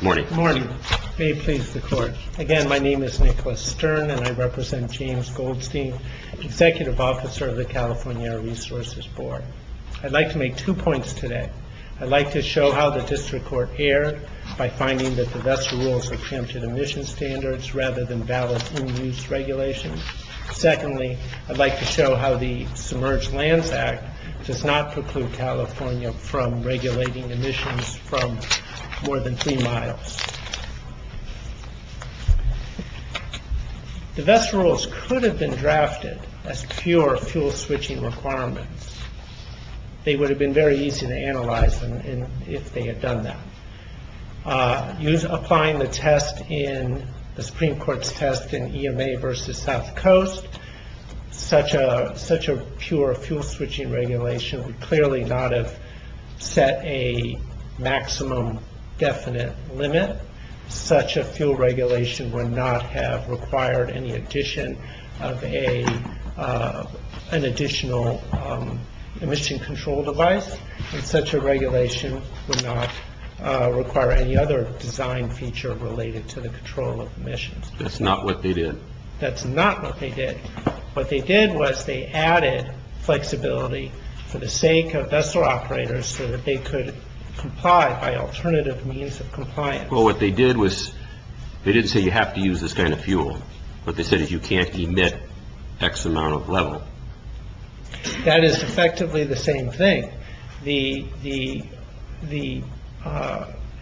Good morning. May it please the court. Again, my name is Nicholas Stern and I represent James Goldstene, Executive Officer of the California Air Resources Board. I'd like to make two points today. I'd like to show how the District Court erred by finding that the VESTA rules are preempted emission standards rather than valid in-use regulations. Secondly, I'd like to show how the Submerged Lands Act does not preclude California's from regulating emissions from more than three miles. The VESTA rules could have been drafted as pure fuel switching requirements. They would have been very easy to analyze if they had done that. Applying the Supreme Court's test in EMA v. South Coast, such a pure fuel switching regulation would clearly not have been set a maximum definite limit. Such a fuel regulation would not have required any addition of an additional emission control device. Such a regulation would not require any other design feature related to the control of emissions. That's not what they did. What they did was they added flexibility for the sake of VESTA operators so that they could comply by alternative means of compliance. Well, what they did was they didn't say you have to use this kind of fuel. What they said is you can't emit X amount of level. That is effectively the same thing. The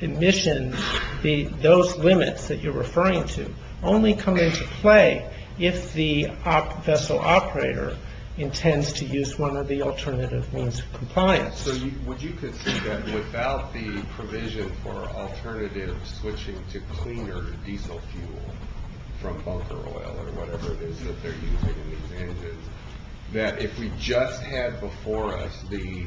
emission, those limits that you're referring to only come into play if the vessel operator intends to use one of the alternative means of compliance. So would you consider that without the provision for alternative switching to cleaner diesel fuel from bunker oil or whatever it is that they're using in these engines, that if we just had before us the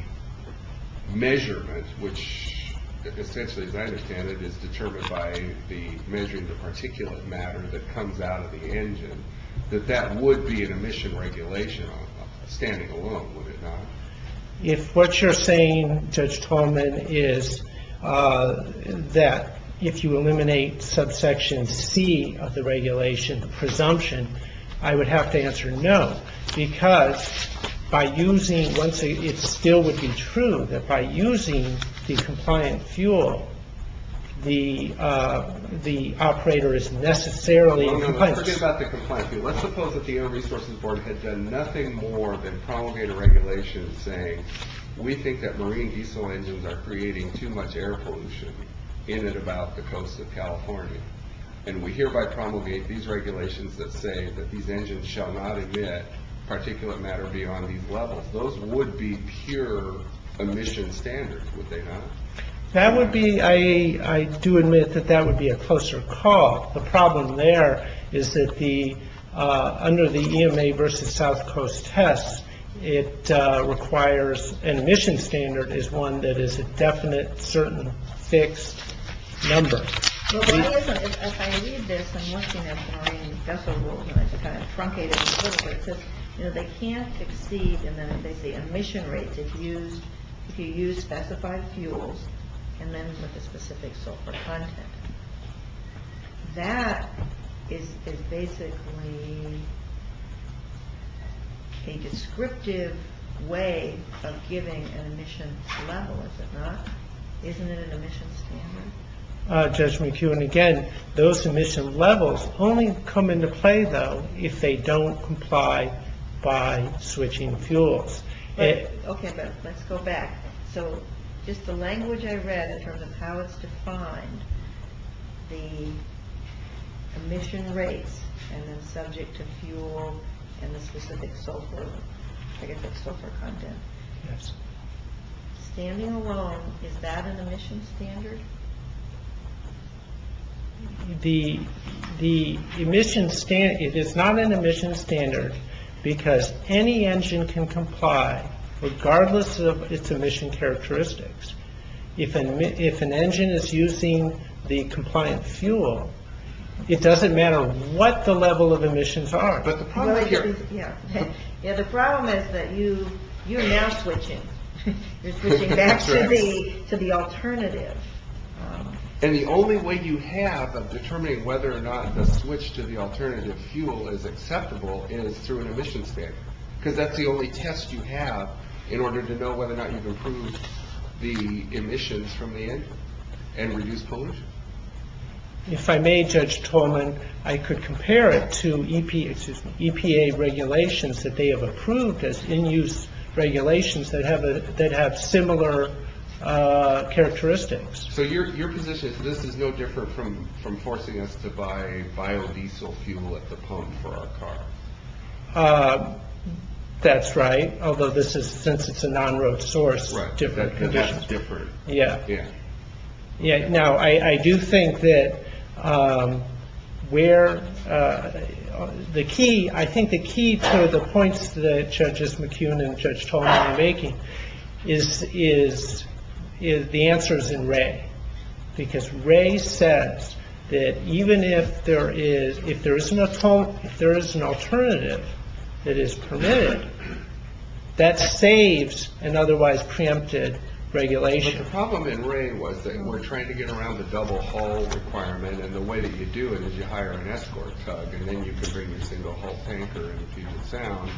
measurement, which essentially as I understand it is determined by the measuring the particulate matter that comes out of the engine, that that would be an emission regulation standing alone, would it not? If what you're saying, Judge Tallman, is that if you eliminate subsection C of the regulation, the presumption, I would have to answer no. Because by using, once again, it still would be true that by using the compliant fuel, the operator is necessarily in compliance. Let's suppose that the Air Resources Board had done nothing more than promulgate a regulation saying, we think that marine diesel engines are creating too much air pollution in and about the coast of California. And we hereby promulgate these regulations that say that these engines shall not emit particulate matter beyond these levels. Those would be pure emission standards, would they not? I do admit that that would be a closer call. The problem there is that under the EMA versus South Coast test, it requires an emission standard is one that is a definite, certain, fixed number. If I read this, I'm looking at marine vessel rules and it's kind of truncated. They can't exceed the emission rates if you use specified fuels and then with a specific sulfur content. That is basically a descriptive way of giving an emission level, is it not? Isn't it an emission standard? Judge McEwen, again, those emission levels only come into play, though, if they don't comply by switching fuels. Okay, but let's go back. So just the language I read in terms of how it's defined, the emission rates and then subject to fuel and the specific sulfur content. Standing alone, is that an emission standard? It is not an emission standard because any engine can comply regardless of its emission characteristics. If an engine is using the compliant fuel, it doesn't matter what the level of emissions are. Yeah, the problem is that you're now switching. You're switching back to the alternative. And the only way you have of determining whether or not the switch to the alternative fuel is acceptable is through an emission standard. Because that's the only test you have in order to know whether or not you can improve the emissions from the engine and reduce pollution. If I may, Judge Tolman, I could compare it to EPA regulations that they have approved as in-use regulations that have similar characteristics. So your position is this is no different from forcing us to buy biodiesel fuel at the pump for our car? That's right. Although this is, since it's a non-road source, different conditions. Yeah. Now, I do think that where the key, I think the key to the points that Judges McKeown and Judge Tolman are making is the answers in Ray. Because Ray says that even if there is, if there is an alternative that is permitted, that saves an otherwise preempted regulation. But the problem in Ray was that we're trying to get around the double hull requirement. And the way that you do it is you hire an escort tug. And then you can bring your single hull tanker and fuse it sound.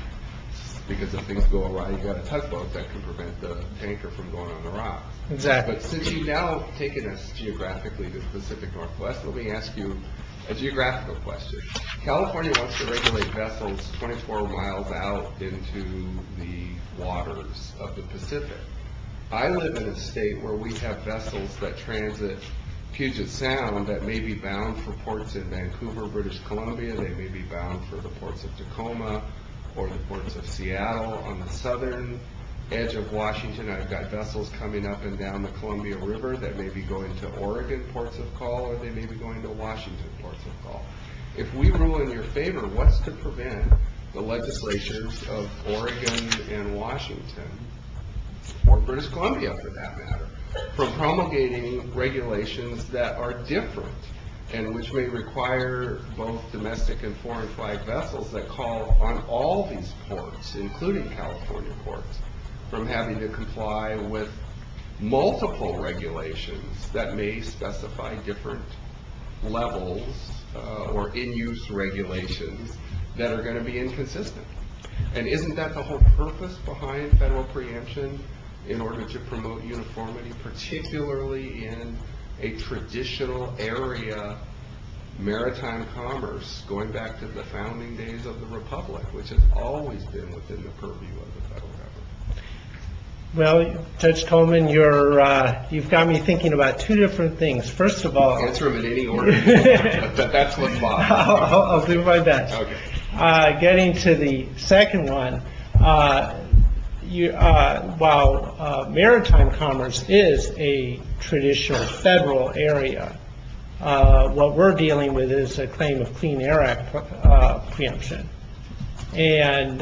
Because if things go awry, you have a tugboat that can prevent the tanker from going on the rocks. Exactly. But since you've now taken us geographically to the Pacific Northwest, let me ask you a geographical question. California wants to regulate vessels 24 miles out into the waters of the Pacific. I live in a state where we have vessels that transit Puget Sound that may be bound for ports in Vancouver, British Columbia. They may be bound for the ports of Tacoma or the ports of Seattle. On the southern edge of Washington, I've got vessels coming up and down the Columbia River that may be going to Oregon ports of call, or they may be going to Washington ports of call. If we rule in your favor, what's to prevent the legislatures of Oregon and Washington, or British Columbia for that matter, from promulgating regulations that are different and which may require both domestic and foreign flight vessels that call on all these ports, including California ports, from having to comply with multiple regulations that may specify different levels or in-use regulations that are going to be inconsistent? Isn't that the whole purpose behind federal preemption in order to promote uniformity, particularly in a traditional area, maritime commerce, going back to the founding days of the Republic, which has always been within the purview of the federal government? Well, Judge Coleman, you've got me thinking about two different things. First of all, getting to the second one, while maritime commerce is, a traditional federal area, what we're dealing with is a claim of Clean Air Act preemption. And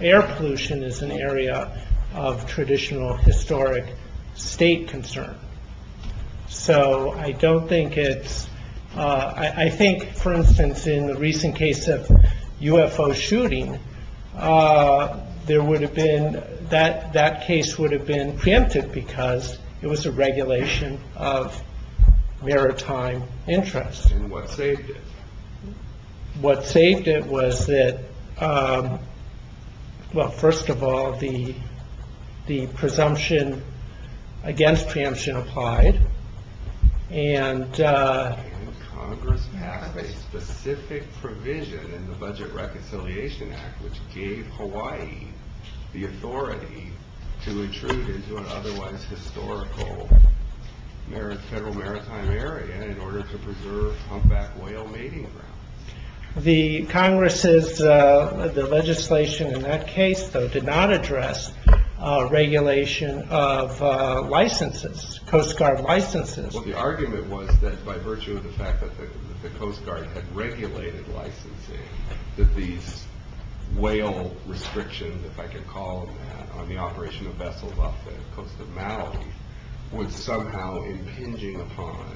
air pollution is an area of traditional historic state concern. So I don't think it's, I think, for instance, in the recent case of UFO shooting, that case would have been preempted because it was a regulation of maritime interest. And what saved it? What saved it was that, well, first of all, the presumption against preemption applied. And Congress passed a specific provision in the Budget Reconciliation Act, which gave Hawaii the authority to intrude into an otherwise historical federal maritime area in order to preserve humpback whale mating grounds. The Congress's legislation in that case, though, did not address regulation of licenses, Coast Guard licenses. Well, the argument was that by virtue of the fact that the Coast Guard had regulated licensing, that these whale restrictions, if I could call them that, on the operation of vessels off the coast of Maui, was somehow impinging upon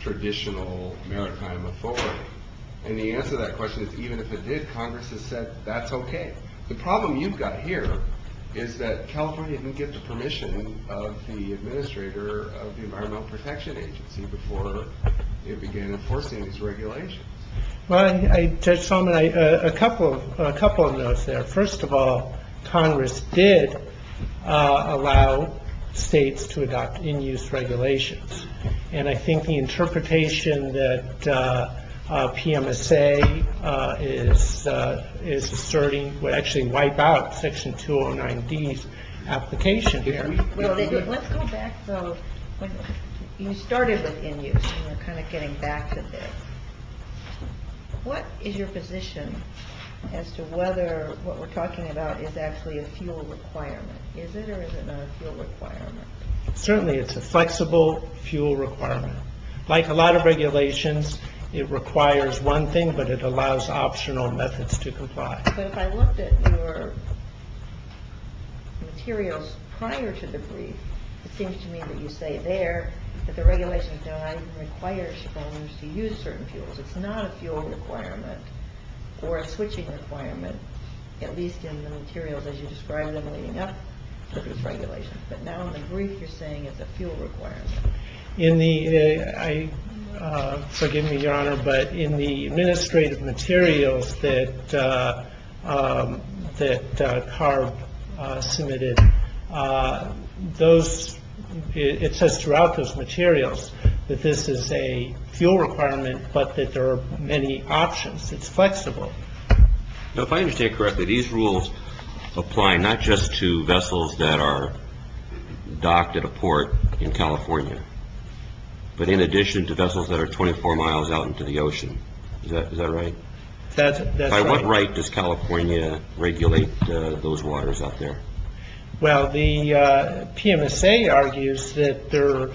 traditional maritime authority. And the answer to that question is, even if it did, Congress has said, that's okay. The problem you've got here is that California didn't get the permission of the administrator of the Environmental Protection Agency before it began enforcing these regulations. Well, Judge Solomon, a couple of notes there. First of all, Congress did allow states to adopt in-use regulations. And I think the interpretation that PMSA is asserting would actually wipe out Section 209D's application here. Let's go back, though. You started with in-use, and we're kind of getting back to this. What is your position as to whether what we're talking about is actually a fuel requirement? Is it or is it not a fuel requirement? Certainly it's a flexible fuel requirement. Like a lot of regulations, it requires one thing, but it allows optional methods to comply. But if I looked at your materials prior to the brief, it seems to me that you say there that the regulations don't even require homeowners to use certain fuels. It's not a fuel requirement or a switching requirement, at least in the materials as you described them leading up to these regulations. But now in the brief, you're saying it's a fuel requirement. Forgive me, Your Honor, but in the administrative materials that CARB submitted, it says throughout those materials that this is a fuel requirement, but that there are many options. It's flexible. If I understand correctly, these rules apply not just to vessels that are docked at a port in California, but in addition to vessels that are 24 miles out into the ocean. Is that right? That's right. By what right does California regulate those waters up there? Well, the PMSA argues that they're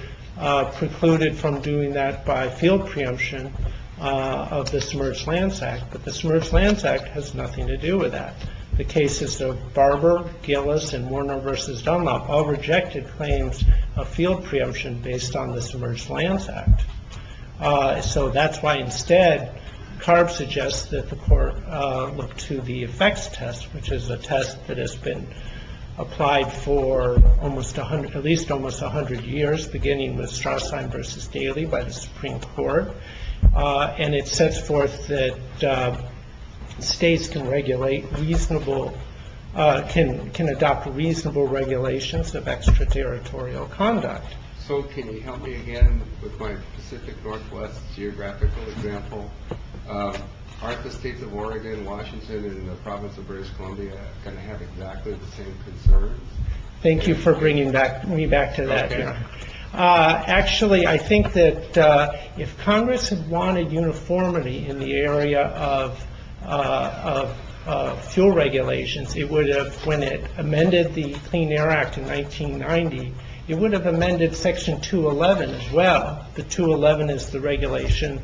precluded from doing that by field preemption of the Submerged Lands Act. But the Submerged Lands Act has nothing to do with that. The cases of Barber, Gillis, and Warner v. Dunlop all rejected claims of field preemption based on the Submerged Lands Act. So that's why instead CARB suggests that the court look to the effects test, which is a test that has been applied for at least almost 100 years, beginning with Strassheim v. Daly by the Supreme Court. And it sets forth that states can adopt reasonable regulations of extraterritorial conduct. So can you help me again with my Pacific Northwest geographical example? Aren't the states of Oregon, Washington, and the province of British Columbia going to have exactly the same concerns? Thank you for bringing me back to that. Actually, I think that if Congress had wanted uniformity in the area of fuel regulations, it would have, when it amended the Clean Air Act in 1990, it would have amended Section 211 as well. The 211 is the regulation,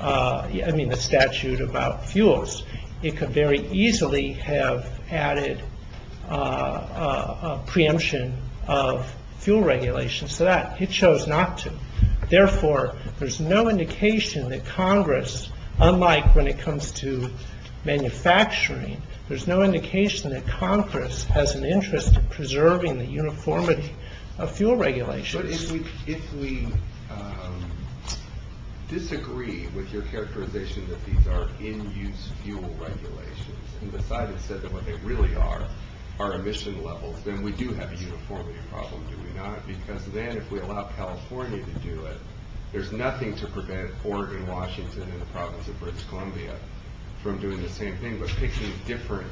I mean, the statute about fuels. It could very easily have added a preemption of fuel regulations to that. It chose not to. Therefore, there's no indication that Congress, unlike when it comes to manufacturing, there's no indication that Congress has an interest in preserving the uniformity of fuel regulations. But if we disagree with your characterization that these are in-use fuel regulations, and decide instead that what they really are are emission levels, then we do have a uniformity problem, do we not? Because then if we allow California to do it, there's nothing to prevent Oregon, Washington, and the province of British Columbia from doing the same thing but picking different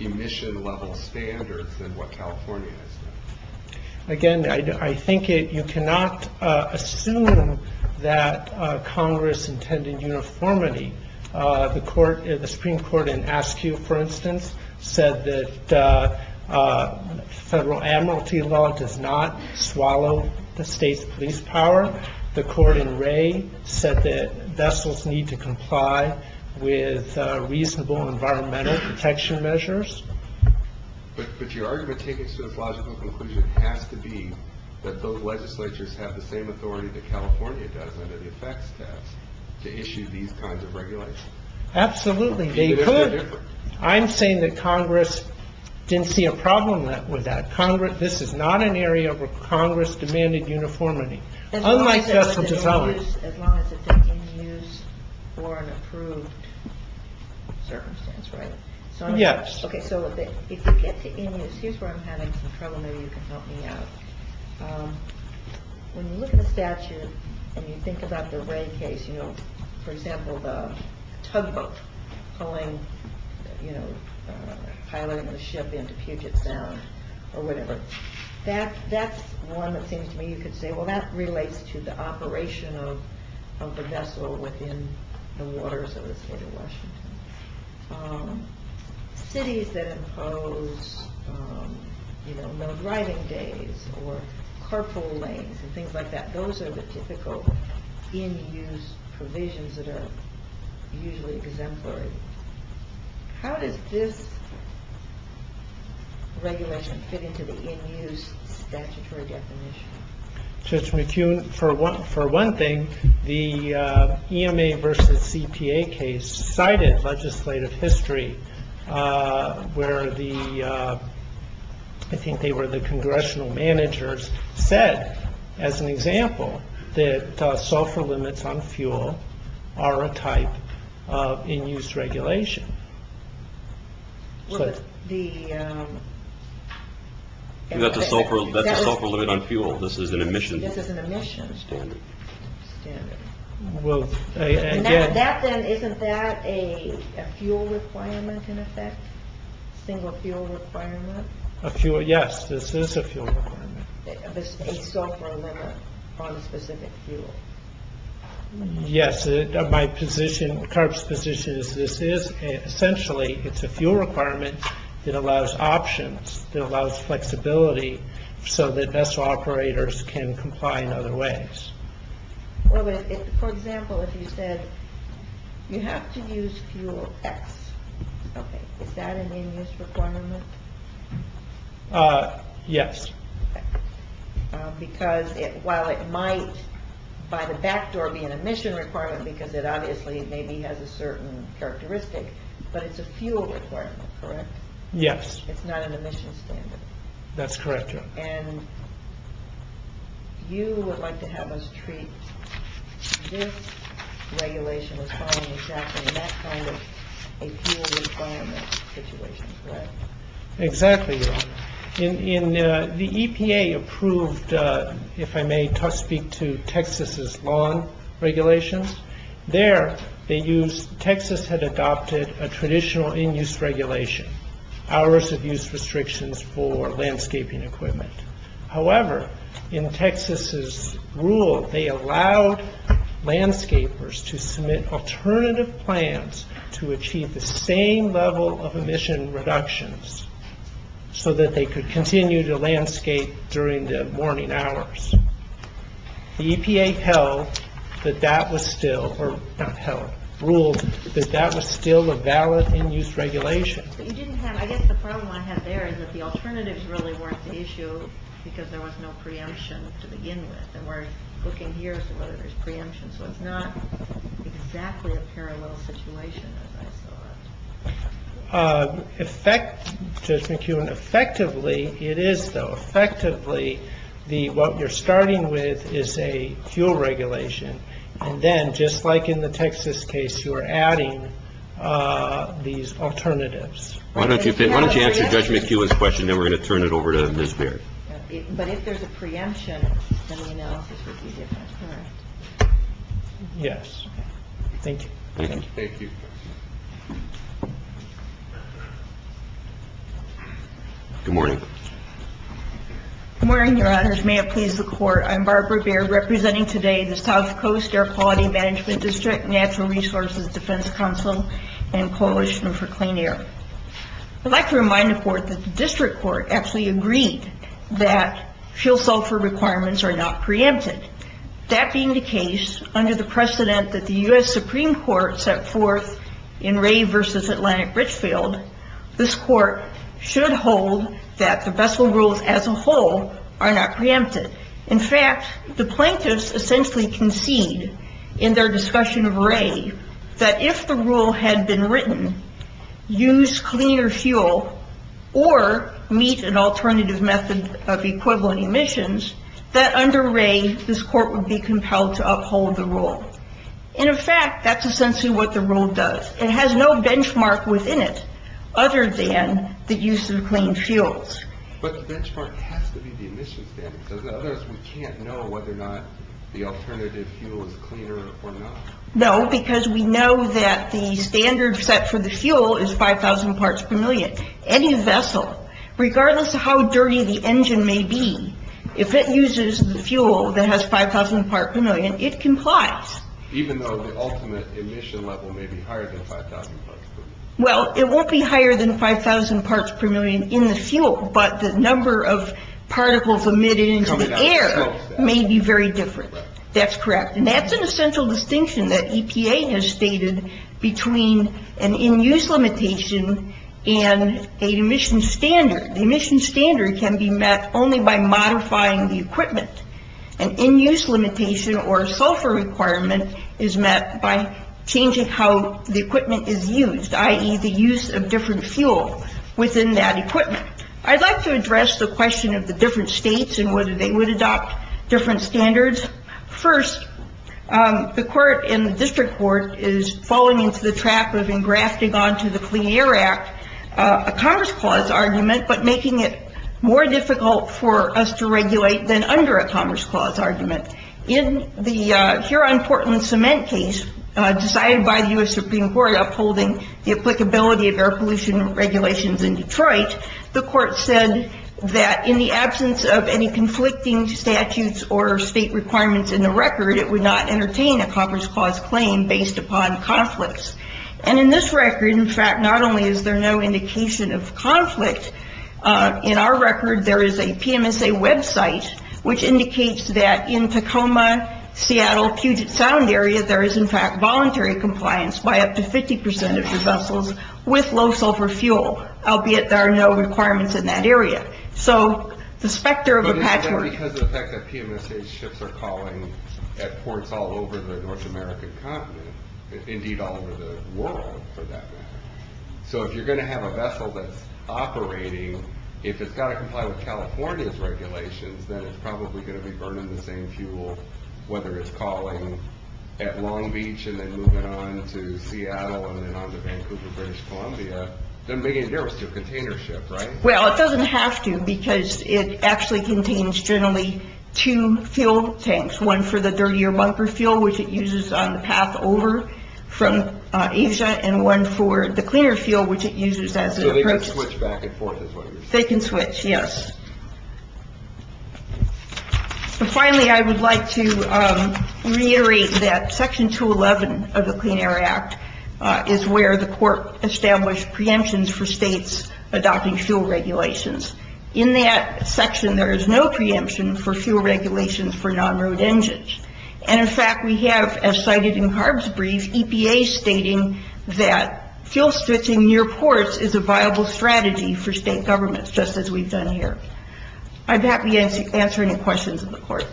emission level standards than what California has done. Again, I think you cannot assume that Congress intended uniformity. The Supreme Court in Askew, for instance, said that federal amnesty law does not swallow the state's police power. The court in Ray said that vessels need to comply with reasonable environmental protection measures. But your argument taken to this logical conclusion has to be that those legislatures have the same authority that California does under the effects test to issue these kinds of regulations. Absolutely, they could. I'm saying that Congress didn't see a problem with that. This is not an area where Congress demanded uniformity. As long as it's in-use or an approved circumstance, right? Yes. Okay, so if you get to in-use, here's where I'm having some trouble. Maybe you can help me out. When you look at the statute and you think about the Ray case, you know, for example, the tugboat pulling, you know, piloting the ship into Puget Sound or whatever, that's one that seems to me you could say, well, that relates to the operation of the vessel within the waters of the state of Washington. Cities that impose, you know, no driving days or carpool lanes and things like that, those are the typical in-use provisions that are usually exemplary. How does this regulation fit into the in-use statutory definition? Judge McCune, for one thing, the EMA versus CPA case cited legislative history where the, I think they were the congressional managers, said, as an example, that sulfur limits on fuel are a type of in-use regulation. That's a sulfur limit on fuel. This is an emission standard. Isn't that a fuel requirement in effect? Single fuel requirement? Yes, this is a fuel requirement. A sulfur limit on a specific fuel. Yes, my position, CARB's position is this is essentially, it's a fuel requirement that allows options, that allows flexibility so that vessel operators can comply in other ways. For example, if you said you have to use fuel X, is that an in-use requirement? Yes. Because while it might, by the back door, be an emission requirement, because it obviously maybe has a certain characteristic, but it's a fuel requirement, correct? Yes. It's not an emission standard. That's correct. And you would like to have us treat this regulation as following exactly that kind of a fuel requirement situation, correct? Exactly, Your Honor. The EPA approved, if I may speak to Texas's lawn regulations. There, Texas had adopted a traditional in-use regulation, hours of use restrictions for landscaping equipment. However, in Texas's rule, they allowed landscapers to submit alternative plans to achieve the same level of emission reductions so that they could continue to landscape during the morning hours. The EPA held that that was still, or not held, ruled that that was still a valid in-use regulation. But you didn't have, I guess the problem I had there is that the alternatives really weren't the issue because there was no preemption to begin with. And we're looking here to see whether there's preemption, so it's not exactly a parallel situation as I saw it. Effect, Judge McEwen, effectively it is, though. Effectively, what you're starting with is a fuel regulation. And then, just like in the Texas case, you are adding these alternatives. Why don't you answer Judge McEwen's question, then we're going to turn it over to Ms. Baird. But if there's a preemption, then the analysis would be different, correct? Yes. Thank you. Thank you. Thank you. Good morning. Good morning, Your Honors. May it please the Court, I'm Barbara Baird, representing today the South Coast Air Quality Management District, Natural Resources Defense Council, and Coalition for Clean Air. I'd like to remind the Court that the District Court actually agreed that fuel sulfur requirements are not preempted. That being the case, under the precedent that the U.S. Supreme Court set forth in Ray v. Atlantic Richfield, this Court should hold that the vessel rules as a whole are not preempted. In fact, the plaintiffs essentially concede in their discussion of Ray that if the rule had been written, use cleaner fuel or meet an alternative method of equivalent emissions, that under Ray this Court would be compelled to uphold the rule. And in fact, that's essentially what the rule does. It has no benchmark within it other than the use of clean fuels. But the benchmark has to be the emission standard, because otherwise we can't know whether or not the alternative fuel is cleaner or not. No, because we know that the standard set for the fuel is 5,000 parts per million. Any vessel, regardless of how dirty the engine may be, if it uses the fuel that has 5,000 parts per million, it complies. Even though the ultimate emission level may be higher than 5,000 parts per million? Well, it won't be higher than 5,000 parts per million in the fuel, but the number of particles emitted into the air may be very different. That's correct. And that's an essential distinction that EPA has stated between an in-use limitation and an emission standard. The emission standard can be met only by modifying the equipment. An in-use limitation or a sulfur requirement is met by changing how the equipment is used, i.e. the use of different fuel within that equipment. I'd like to address the question of the different states and whether they would adopt different standards. First, the court in the district court is falling into the trap of engrafting onto the Clean Air Act a Commerce Clause argument, but making it more difficult for us to regulate than under a Commerce Clause argument. In the Huron-Portland cement case decided by the U.S. Supreme Court upholding the applicability of air pollution regulations in Detroit, the court said that in the absence of any conflicting statutes or state requirements in the record, it would not entertain a Commerce Clause claim based upon conflicts. And in this record, in fact, not only is there no indication of conflict, in our record there is a PMSA website which indicates that in Tacoma, Seattle, Puget Sound area, there is, in fact, voluntary compliance by up to 50% of your vessels with low sulfur fuel, albeit there are no requirements in that area. So the specter of a patchwork... But it's not because of the fact that PMSA ships are calling at ports all over the North American continent, indeed all over the world for that matter. So if you're going to have a vessel that's operating, if it's got to comply with California's regulations, then it's probably going to be burning the same fuel whether it's calling at Long Beach and then moving on to Seattle and then on to Vancouver, British Columbia. Doesn't make any difference to a container ship, right? Well, it doesn't have to because it actually contains generally two fuel tanks, one for the dirtier bunker fuel, which it uses on the path over from Asia, and one for the cleaner fuel, which it uses as an approach... So they can switch back and forth is what you're saying? They can switch, yes. And finally, I would like to reiterate that Section 211 of the Clean Air Act is where the court established preemptions for states adopting fuel regulations. In that section, there is no preemption for fuel regulations for non-road engines. And, in fact, we have, as cited in Harb's brief, EPA stating that fuel switching near ports is a viable strategy for state governments, just as we've done here. I'd be happy to answer any questions of the court.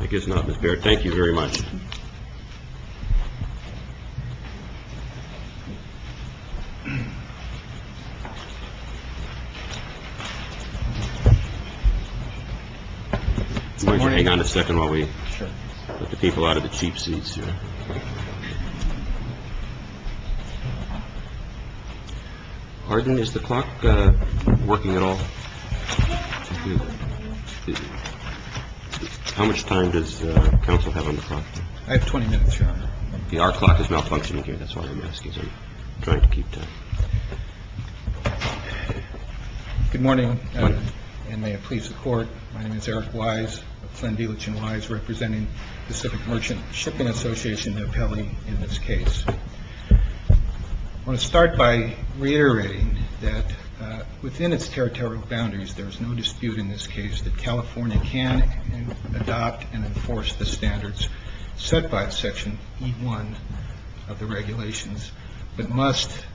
I guess not, Ms. Baird. Thank you very much. Thank you. Why don't you hang on a second while we get the people out of the cheap seats here? Arden, is the clock working at all? How much time does counsel have on the clock? I have 20 minutes, Your Honor. The hour clock is malfunctioning here. That's why I'm asking. So I'm trying to keep time. Good morning, and may it please the court. My name is Eric Wise, a friend of Elitch & Wise, representing Pacific Merchant Shipping Association, their penalty in this case. I want to start by reiterating that within its territorial boundaries, there is no dispute in this case that California can adopt and enforce the standards set by Section E1 of the regulations, but must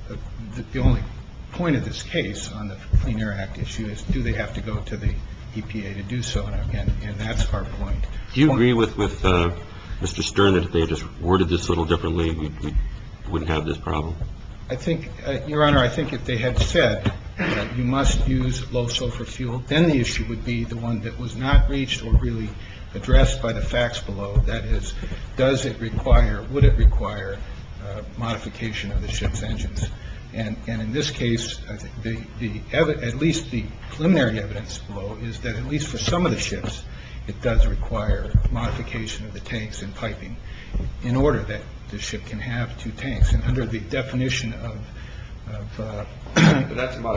the only point of this case on the Clean Air Act issue is, do they have to go to the EPA to do so? And that's our point. Do you agree with Mr. Stern that if they had just worded this a little differently, we wouldn't have this problem? I think, Your Honor, I think if they had said that you must use low sulfur fuel, then the issue would be the one that was not reached or really addressed by the facts below. That is, does it require, would it require modification of the ship's engines? And in this case, at least the preliminary evidence below is that at least for some of the ships, it does require modification of the tanks and piping in order that the ship can have two tanks. And under the definition of... Well, that's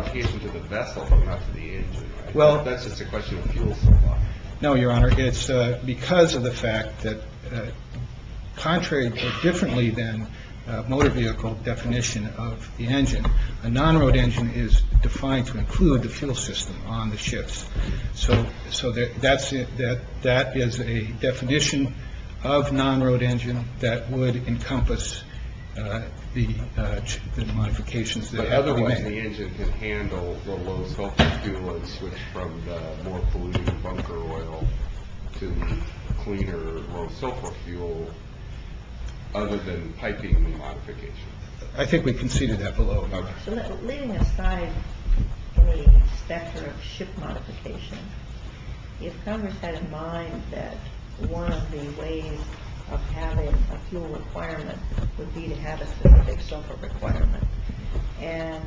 just a question of fuel supply. No, Your Honor. It's because of the fact that contrary or differently than motor vehicle definition of the engine, a non-road engine is defined to include the fuel system on the ships. So that is a definition of non-road engine that would encompass the modifications. Otherwise the engine can handle the low sulfur fuel and switch from the more polluted bunker oil to the cleaner low sulfur fuel other than piping the modification. I think we conceded that below. So leaving aside any specter of ship modification, if Congress had in mind that one of the ways of having a fuel requirement would be to have a specific sulfur requirement, and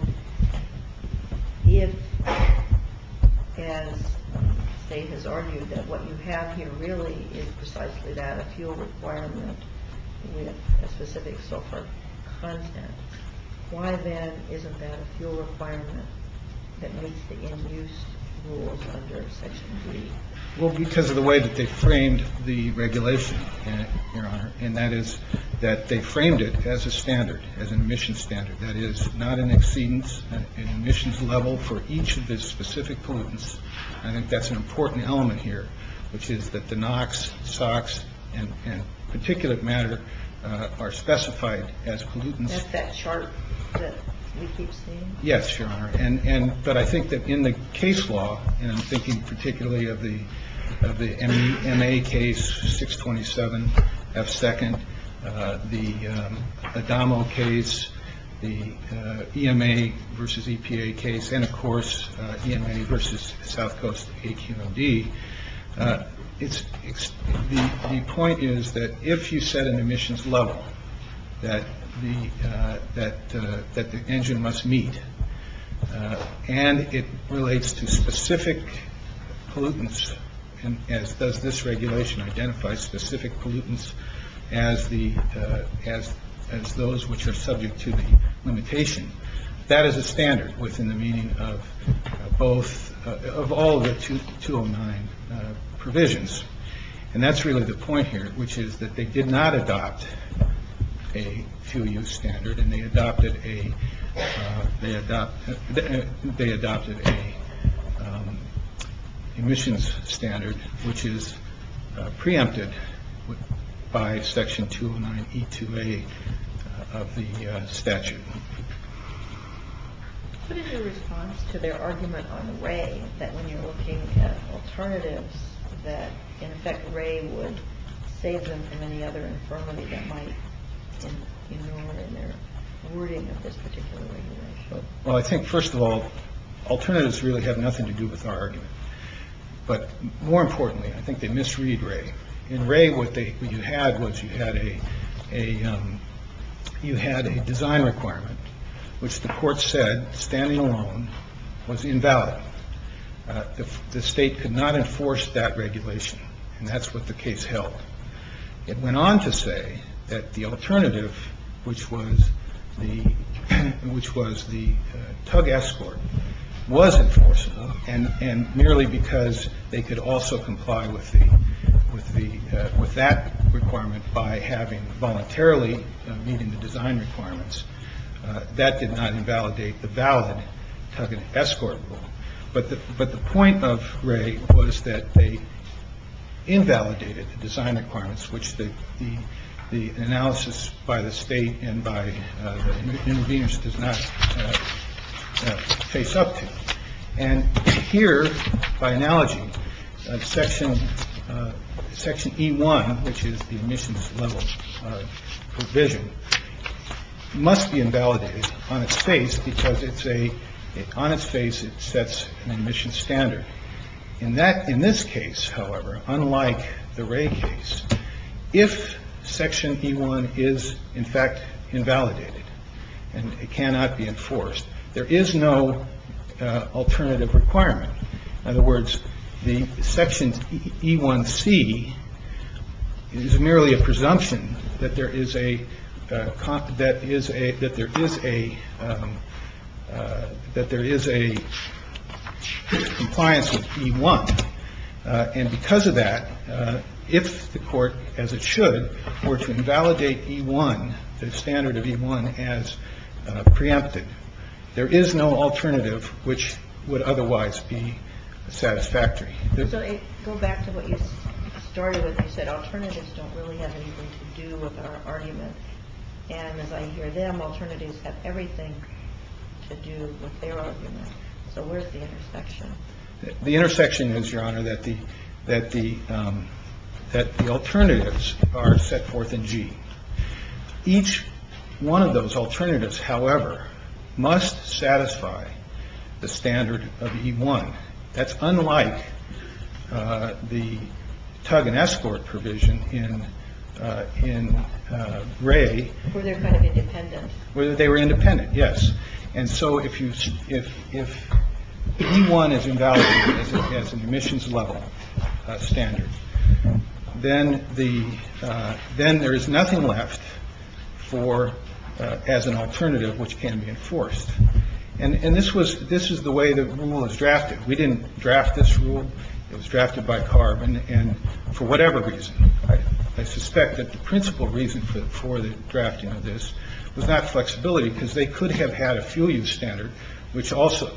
if as State has argued that what you have here really is precisely that, a fuel requirement with a specific sulfur content, why then isn't that a fuel requirement that meets the end-use rules under Section D? Well, because of the way that they framed the regulation, Your Honor, and that is that they framed it as a standard, as an emission standard. That is not an exceedance, an emissions level for each of the specific pollutants. I think that's an important element here, which is that the NOx, SOx, and particulate matter are specified as pollutants. That's that chart that we keep seeing? Yes, Your Honor. But I think that in the case law, and I'm thinking particularly of the MA case, 627F2nd, the ADAMO case, the EMA versus EPA case, and of course, EMA versus South Coast AQOD, the point is that if you set an emissions level that the engine must meet, and it relates to specific pollutants, as does this regulation identify specific pollutants as those which are subject to the limitation, that is a standard within the meaning of all the 209 provisions. And that's really the point here, which is that they did not adopt a 2U standard, and they adopted a emissions standard, which is preempted by Section 209E2A of the statute. What is your response to their argument on Ray, that when you're looking at alternatives, that in effect, Ray would save them from any other infirmity that might be ignored in their wording of this particular regulation? Well, I think, first of all, alternatives really have nothing to do with our argument. But more importantly, I think they misread Ray. In Ray, what you had was you had a design requirement, which the court said, standing alone, was invalid. The state could not enforce that regulation, and that's what the case held. It went on to say that the alternative, which was the tug escort, was enforceable, and merely because they could also comply with that requirement by having voluntarily meeting the design requirements, that did not invalidate the valid tug and escort rule. But the point of Ray was that they invalidated the design requirements, which the analysis by the state and by the interveners does not face up to. And here, by analogy, section section E1, which is the emissions level provision, must be invalidated on its face because it's a on its face. It sets an emission standard in that. In this case, however, unlike the Ray case, if section E1 is in fact invalidated and it cannot be enforced, there is no alternative requirement. In other words, the section E1C is merely a presumption that there is a that is a that there is a that there is a compliance with E1. And because of that, if the court, as it should, were to invalidate E1, the standard of E1 as preempted, there is no alternative which would otherwise be satisfactory. Go back to what you started with. You said alternatives don't really have anything to do with our argument. And as I hear them, alternatives have everything to do with their argument. So where's the intersection? The intersection is, Your Honor, that the that the that the alternatives are set forth in G. Each one of those alternatives, however, must satisfy the standard of E1. That's unlike the tug and escort provision in in Ray. Where they're kind of independent. Where they were independent. Yes. And so if you if if one is invalid as an emissions level standard, then the then there is nothing left for as an alternative which can be enforced. And this was this is the way the rule is drafted. We didn't draft this rule. It was drafted by carbon. And for whatever reason, I suspect that the principal reason for the drafting of this was not flexibility, because they could have had a fuel use standard, which also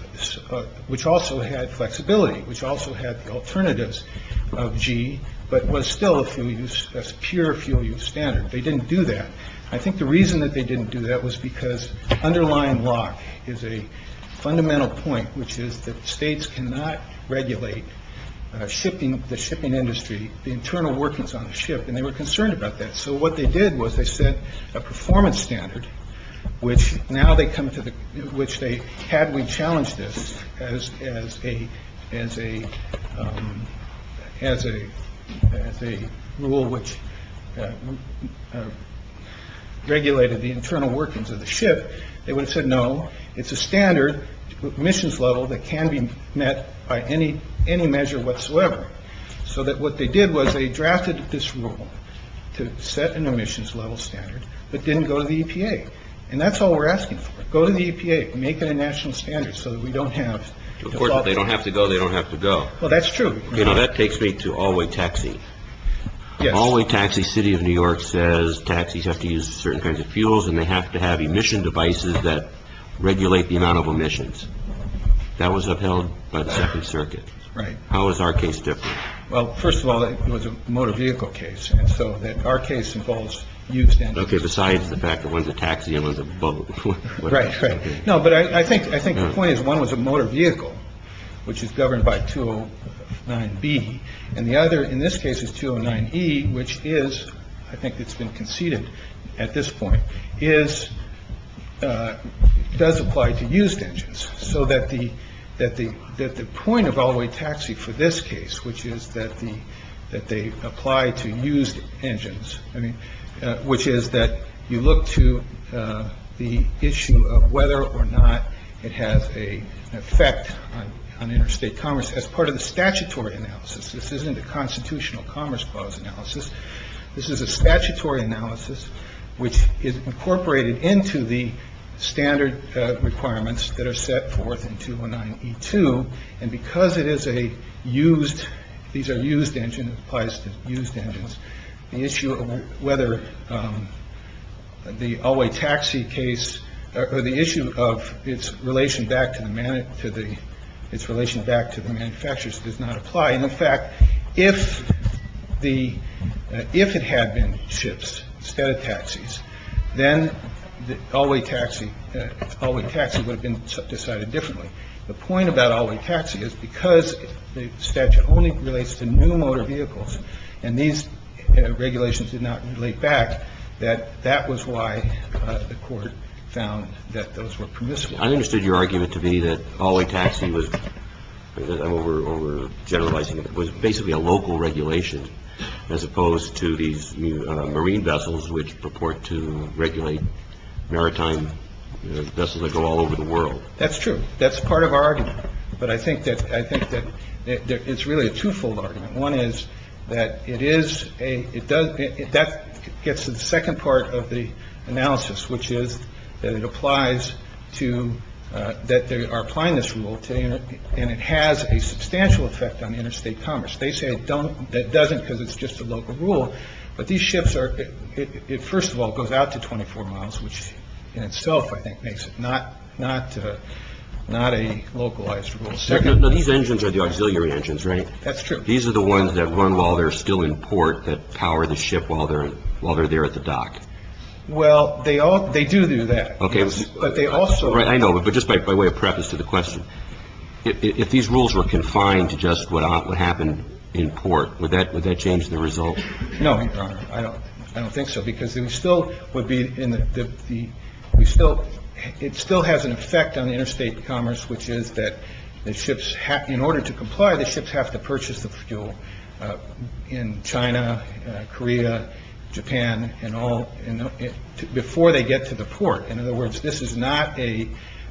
which also had flexibility, which also had the alternatives of G, but was still a few years as pure fuel use standard. They didn't do that. I think the reason that they didn't do that was because underlying law is a fundamental point, which is that states cannot regulate shipping, the shipping industry, the internal workings on the ship. And they were concerned about that. So what they did was they set a performance standard, which now they come to the which they had we challenged this as as a as a as a as a rule, which regulated the internal workings of the ship. They would have said, no, it's a standard missions level that can be met by any any measure whatsoever. So that what they did was they drafted this rule to set an emissions level standard, but didn't go to the EPA. And that's all we're asking for. Go to the EPA. Make it a national standard so that we don't have to. Of course, they don't have to go. They don't have to go. Well, that's true. That takes me to all way taxi. Yes. Taxi City of New York says taxis have to use certain kinds of fuels and they have to have emission devices that regulate the amount of emissions. That was upheld by the Second Circuit. Right. How is our case different? Well, first of all, it was a motor vehicle case. And so that our case involves you. Besides the fact that when the taxi was a boat. Right. Right. No, but I think I think the point is one was a motor vehicle which is governed by two nine B and the other in this case is two nine E, which is I think it's been conceded at this point is does apply to used engines so that the that the that the point of all the way taxi for this case, which is that the that they apply to used engines, which is that you look to the issue of whether or not it has a effect on interstate commerce as part of the statutory analysis. This isn't a constitutional commerce clause analysis. This is a statutory analysis, which is incorporated into the standard requirements that are set forth in two one nine two. And because it is a used. These are used engine applies to used engines. The issue of whether the all way taxi case or the issue of its relation back to the man to the its relation back to the manufacturers does not apply. And in fact, if the if it had been ships instead of taxis, then the all way taxi all way taxi would have been decided differently. The point about all way taxi is because the statute only relates to new motor vehicles and these regulations did not relate back, that that was why the court found that those were permissible. I understood your argument to be that all way taxi was over generalizing. It was basically a local regulation as opposed to these marine vessels which purport to regulate maritime vessels that go all over the world. That's true. That's part of our argument. But I think that I think that it's really a twofold argument. One is that it is a it does. That gets to the second part of the analysis, which is that it applies to that. They are applying this rule to you. And it has a substantial effect on interstate commerce. They say it don't. That doesn't because it's just a local rule. But these ships are it first of all goes out to 24 miles, which in itself I think makes it not not not a localized rule. These engines are the auxiliary engines, right? That's true. These are the ones that run while they're still in port that power the ship while they're while they're there at the dock. Well, they all they do do that. OK. But they also. Right. I know. But just by way of preface to the question, if these rules were confined to just what happened in port, would that would that change the result? No, I don't. I don't think so, because it still would be in the still it still has an effect on the interstate commerce, which is that the ships have in order to comply, the ships have to purchase the fuel in China, Korea, Japan and all before they get to the port. In other words, this is not a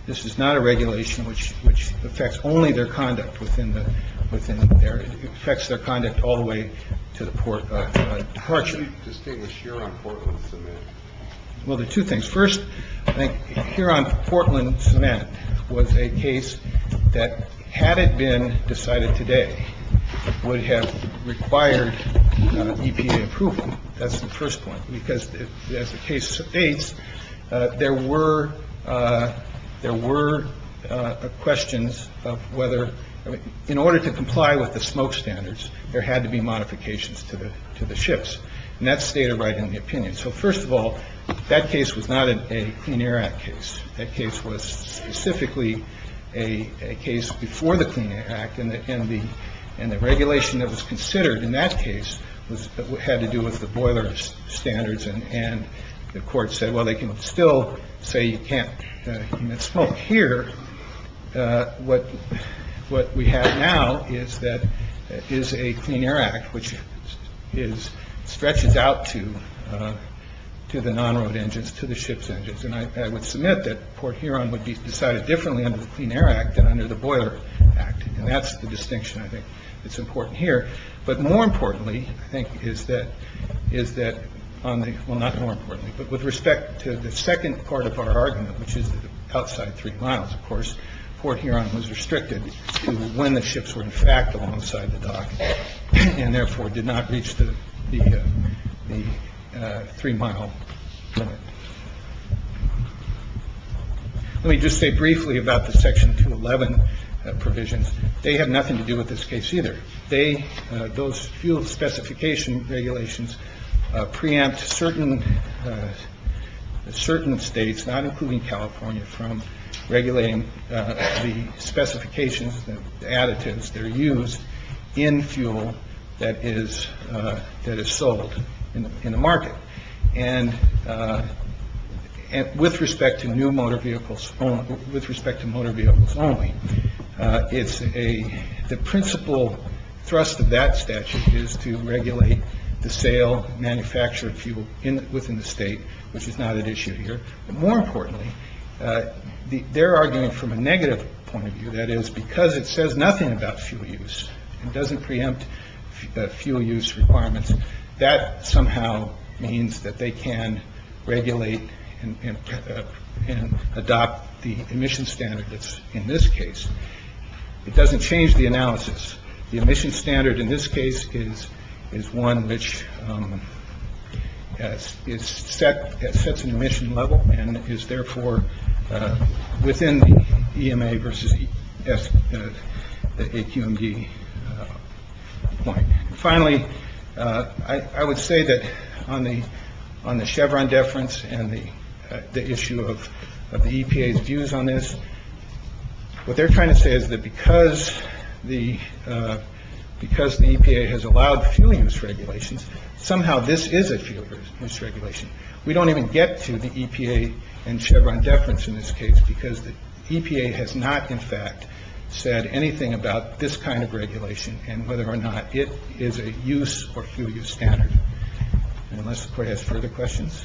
this is not a regulation which which affects only their conduct within the within their effects, their conduct all the way to the port. How do you distinguish here on Portland? Well, the two things. First, I think here on Portland cement was a case that had it been decided today would have required EPA approval. That's the first point, because as the case states, there were there were questions of whether in order to comply with the smoke standards, there had to be modifications to the to the ships. And that stated right in the opinion. So first of all, that case was not a Clean Air Act case. That case was specifically a case before the Clean Air Act. And the and the and the regulation that was considered in that case had to do with the boiler standards. And the court said, well, they can still say you can't smoke here. But what what we have now is that is a Clean Air Act, which is stretches out to to the non-road engines, to the ship's engines. And I would submit that port Huron would be decided differently under the Clean Air Act and under the Boiler Act. And that's the distinction. I think it's important here. But more importantly, I think, is that is that on the. Well, not more importantly, but with respect to the second part of our argument, which is the outside three miles, of course, port Huron was restricted to when the ships were in fact alongside the dock and therefore did not reach the three mile. Let me just say briefly about the section to 11 provisions. They have nothing to do with this case either. They those fuel specification regulations preempt certain certain states, not including California, from regulating the specifications, the additives that are used in fuel that is that is sold in the market. And with respect to new motor vehicles, with respect to motor vehicles only. It's a the principal thrust of that statute is to regulate the sale, manufacture fuel within the state, which is not an issue here. But more importantly, they're arguing from a negative point of view. That is because it says nothing about fuel use and doesn't preempt fuel use requirements. That somehow means that they can regulate and adopt the emission standards. In this case, it doesn't change the analysis. The emission standard in this case is is one which is set. It sets an emission level and is therefore within the EMA versus the AQMD point. Finally, I would say that on the on the Chevron deference and the issue of the EPA's views on this. What they're trying to say is that because the because the EPA has allowed fueling misregulations, somehow this is a fuel misregulation. We don't even get to the EPA and Chevron deference in this case because the EPA has not, in fact, said anything about this kind of regulation and whether or not it is a use or fuel use standard. Unless the court has further questions.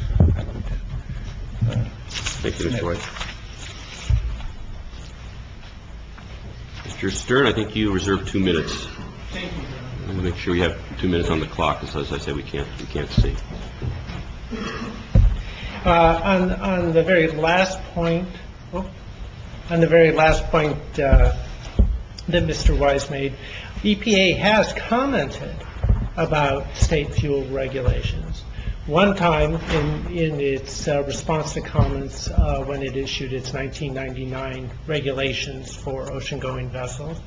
Mr. Stern, I think you reserve two minutes to make sure you have two minutes on the clock. As I said, we can't we can't see on the very last point on the very last point that Mr. Weiss made, EPA has commented about state fuel regulations one time in its response to comments when it issued its nineteen ninety nine regulations for ocean going vessels.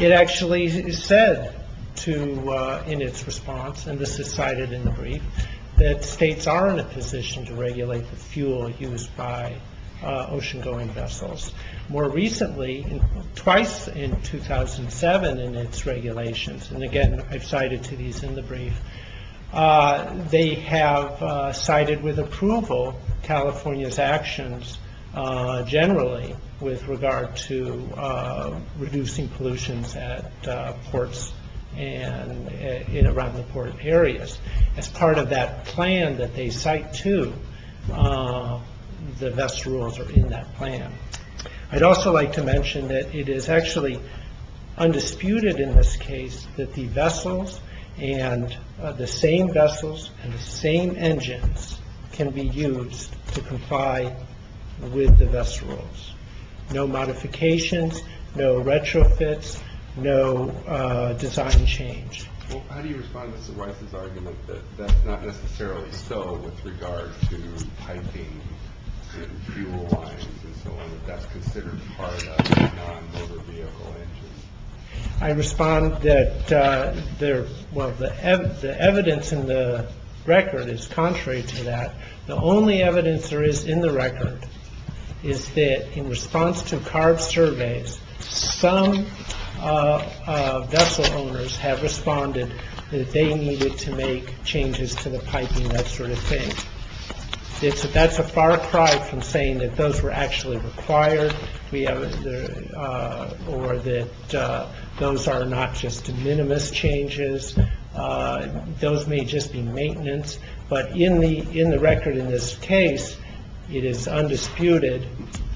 It actually said to in its response, and this is cited in the brief, that states are in a position to regulate the fuel used by ocean going vessels. More recently, twice in 2007 in its regulations. And again, I've cited to these in the brief. They have cited with approval California's actions generally with regard to reducing pollutions at ports and in and around the port areas. As part of that plan that they cite to, the VESS rules are in that plan. I'd also like to mention that it is actually undisputed in this case that the vessels and the same vessels and the same engines can be used to comply with the VESS rules. No modifications, no retrofits, no design change. How do you respond to Mr. Weiss's argument that that's not necessarily so with regard to piping fuel lines and so on, that that's considered part of a non-motor vehicle engine? I respond that the evidence in the record is contrary to that. The only evidence there is in the record is that in response to CARB surveys, some vessel owners have responded that they needed to make changes to the piping, that sort of thing. That's a far cry from saying that those were actually required or that those are not just minimus changes. Those may just be maintenance, but in the record in this case, it is undisputed,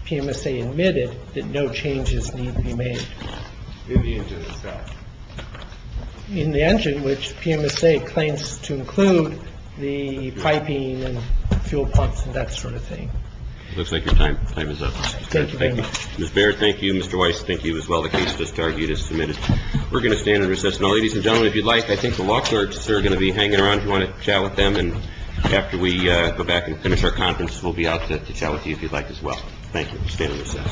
PMSA admitted, that no changes need to be made. In the engine itself? In the engine, which PMSA claims to include the piping and fuel pumps and that sort of thing. It looks like your time is up. Thank you very much. Ms. Baird, thank you. Mr. Weiss, thank you as well. The case just argued is submitted. We're going to stand in recess. Ladies and gentlemen, if you'd like, I think the law clerks are going to be hanging around if you want to chat with them. After we go back and finish our conference, we'll be out to chat with you if you'd like as well. Thank you. Stand in recess.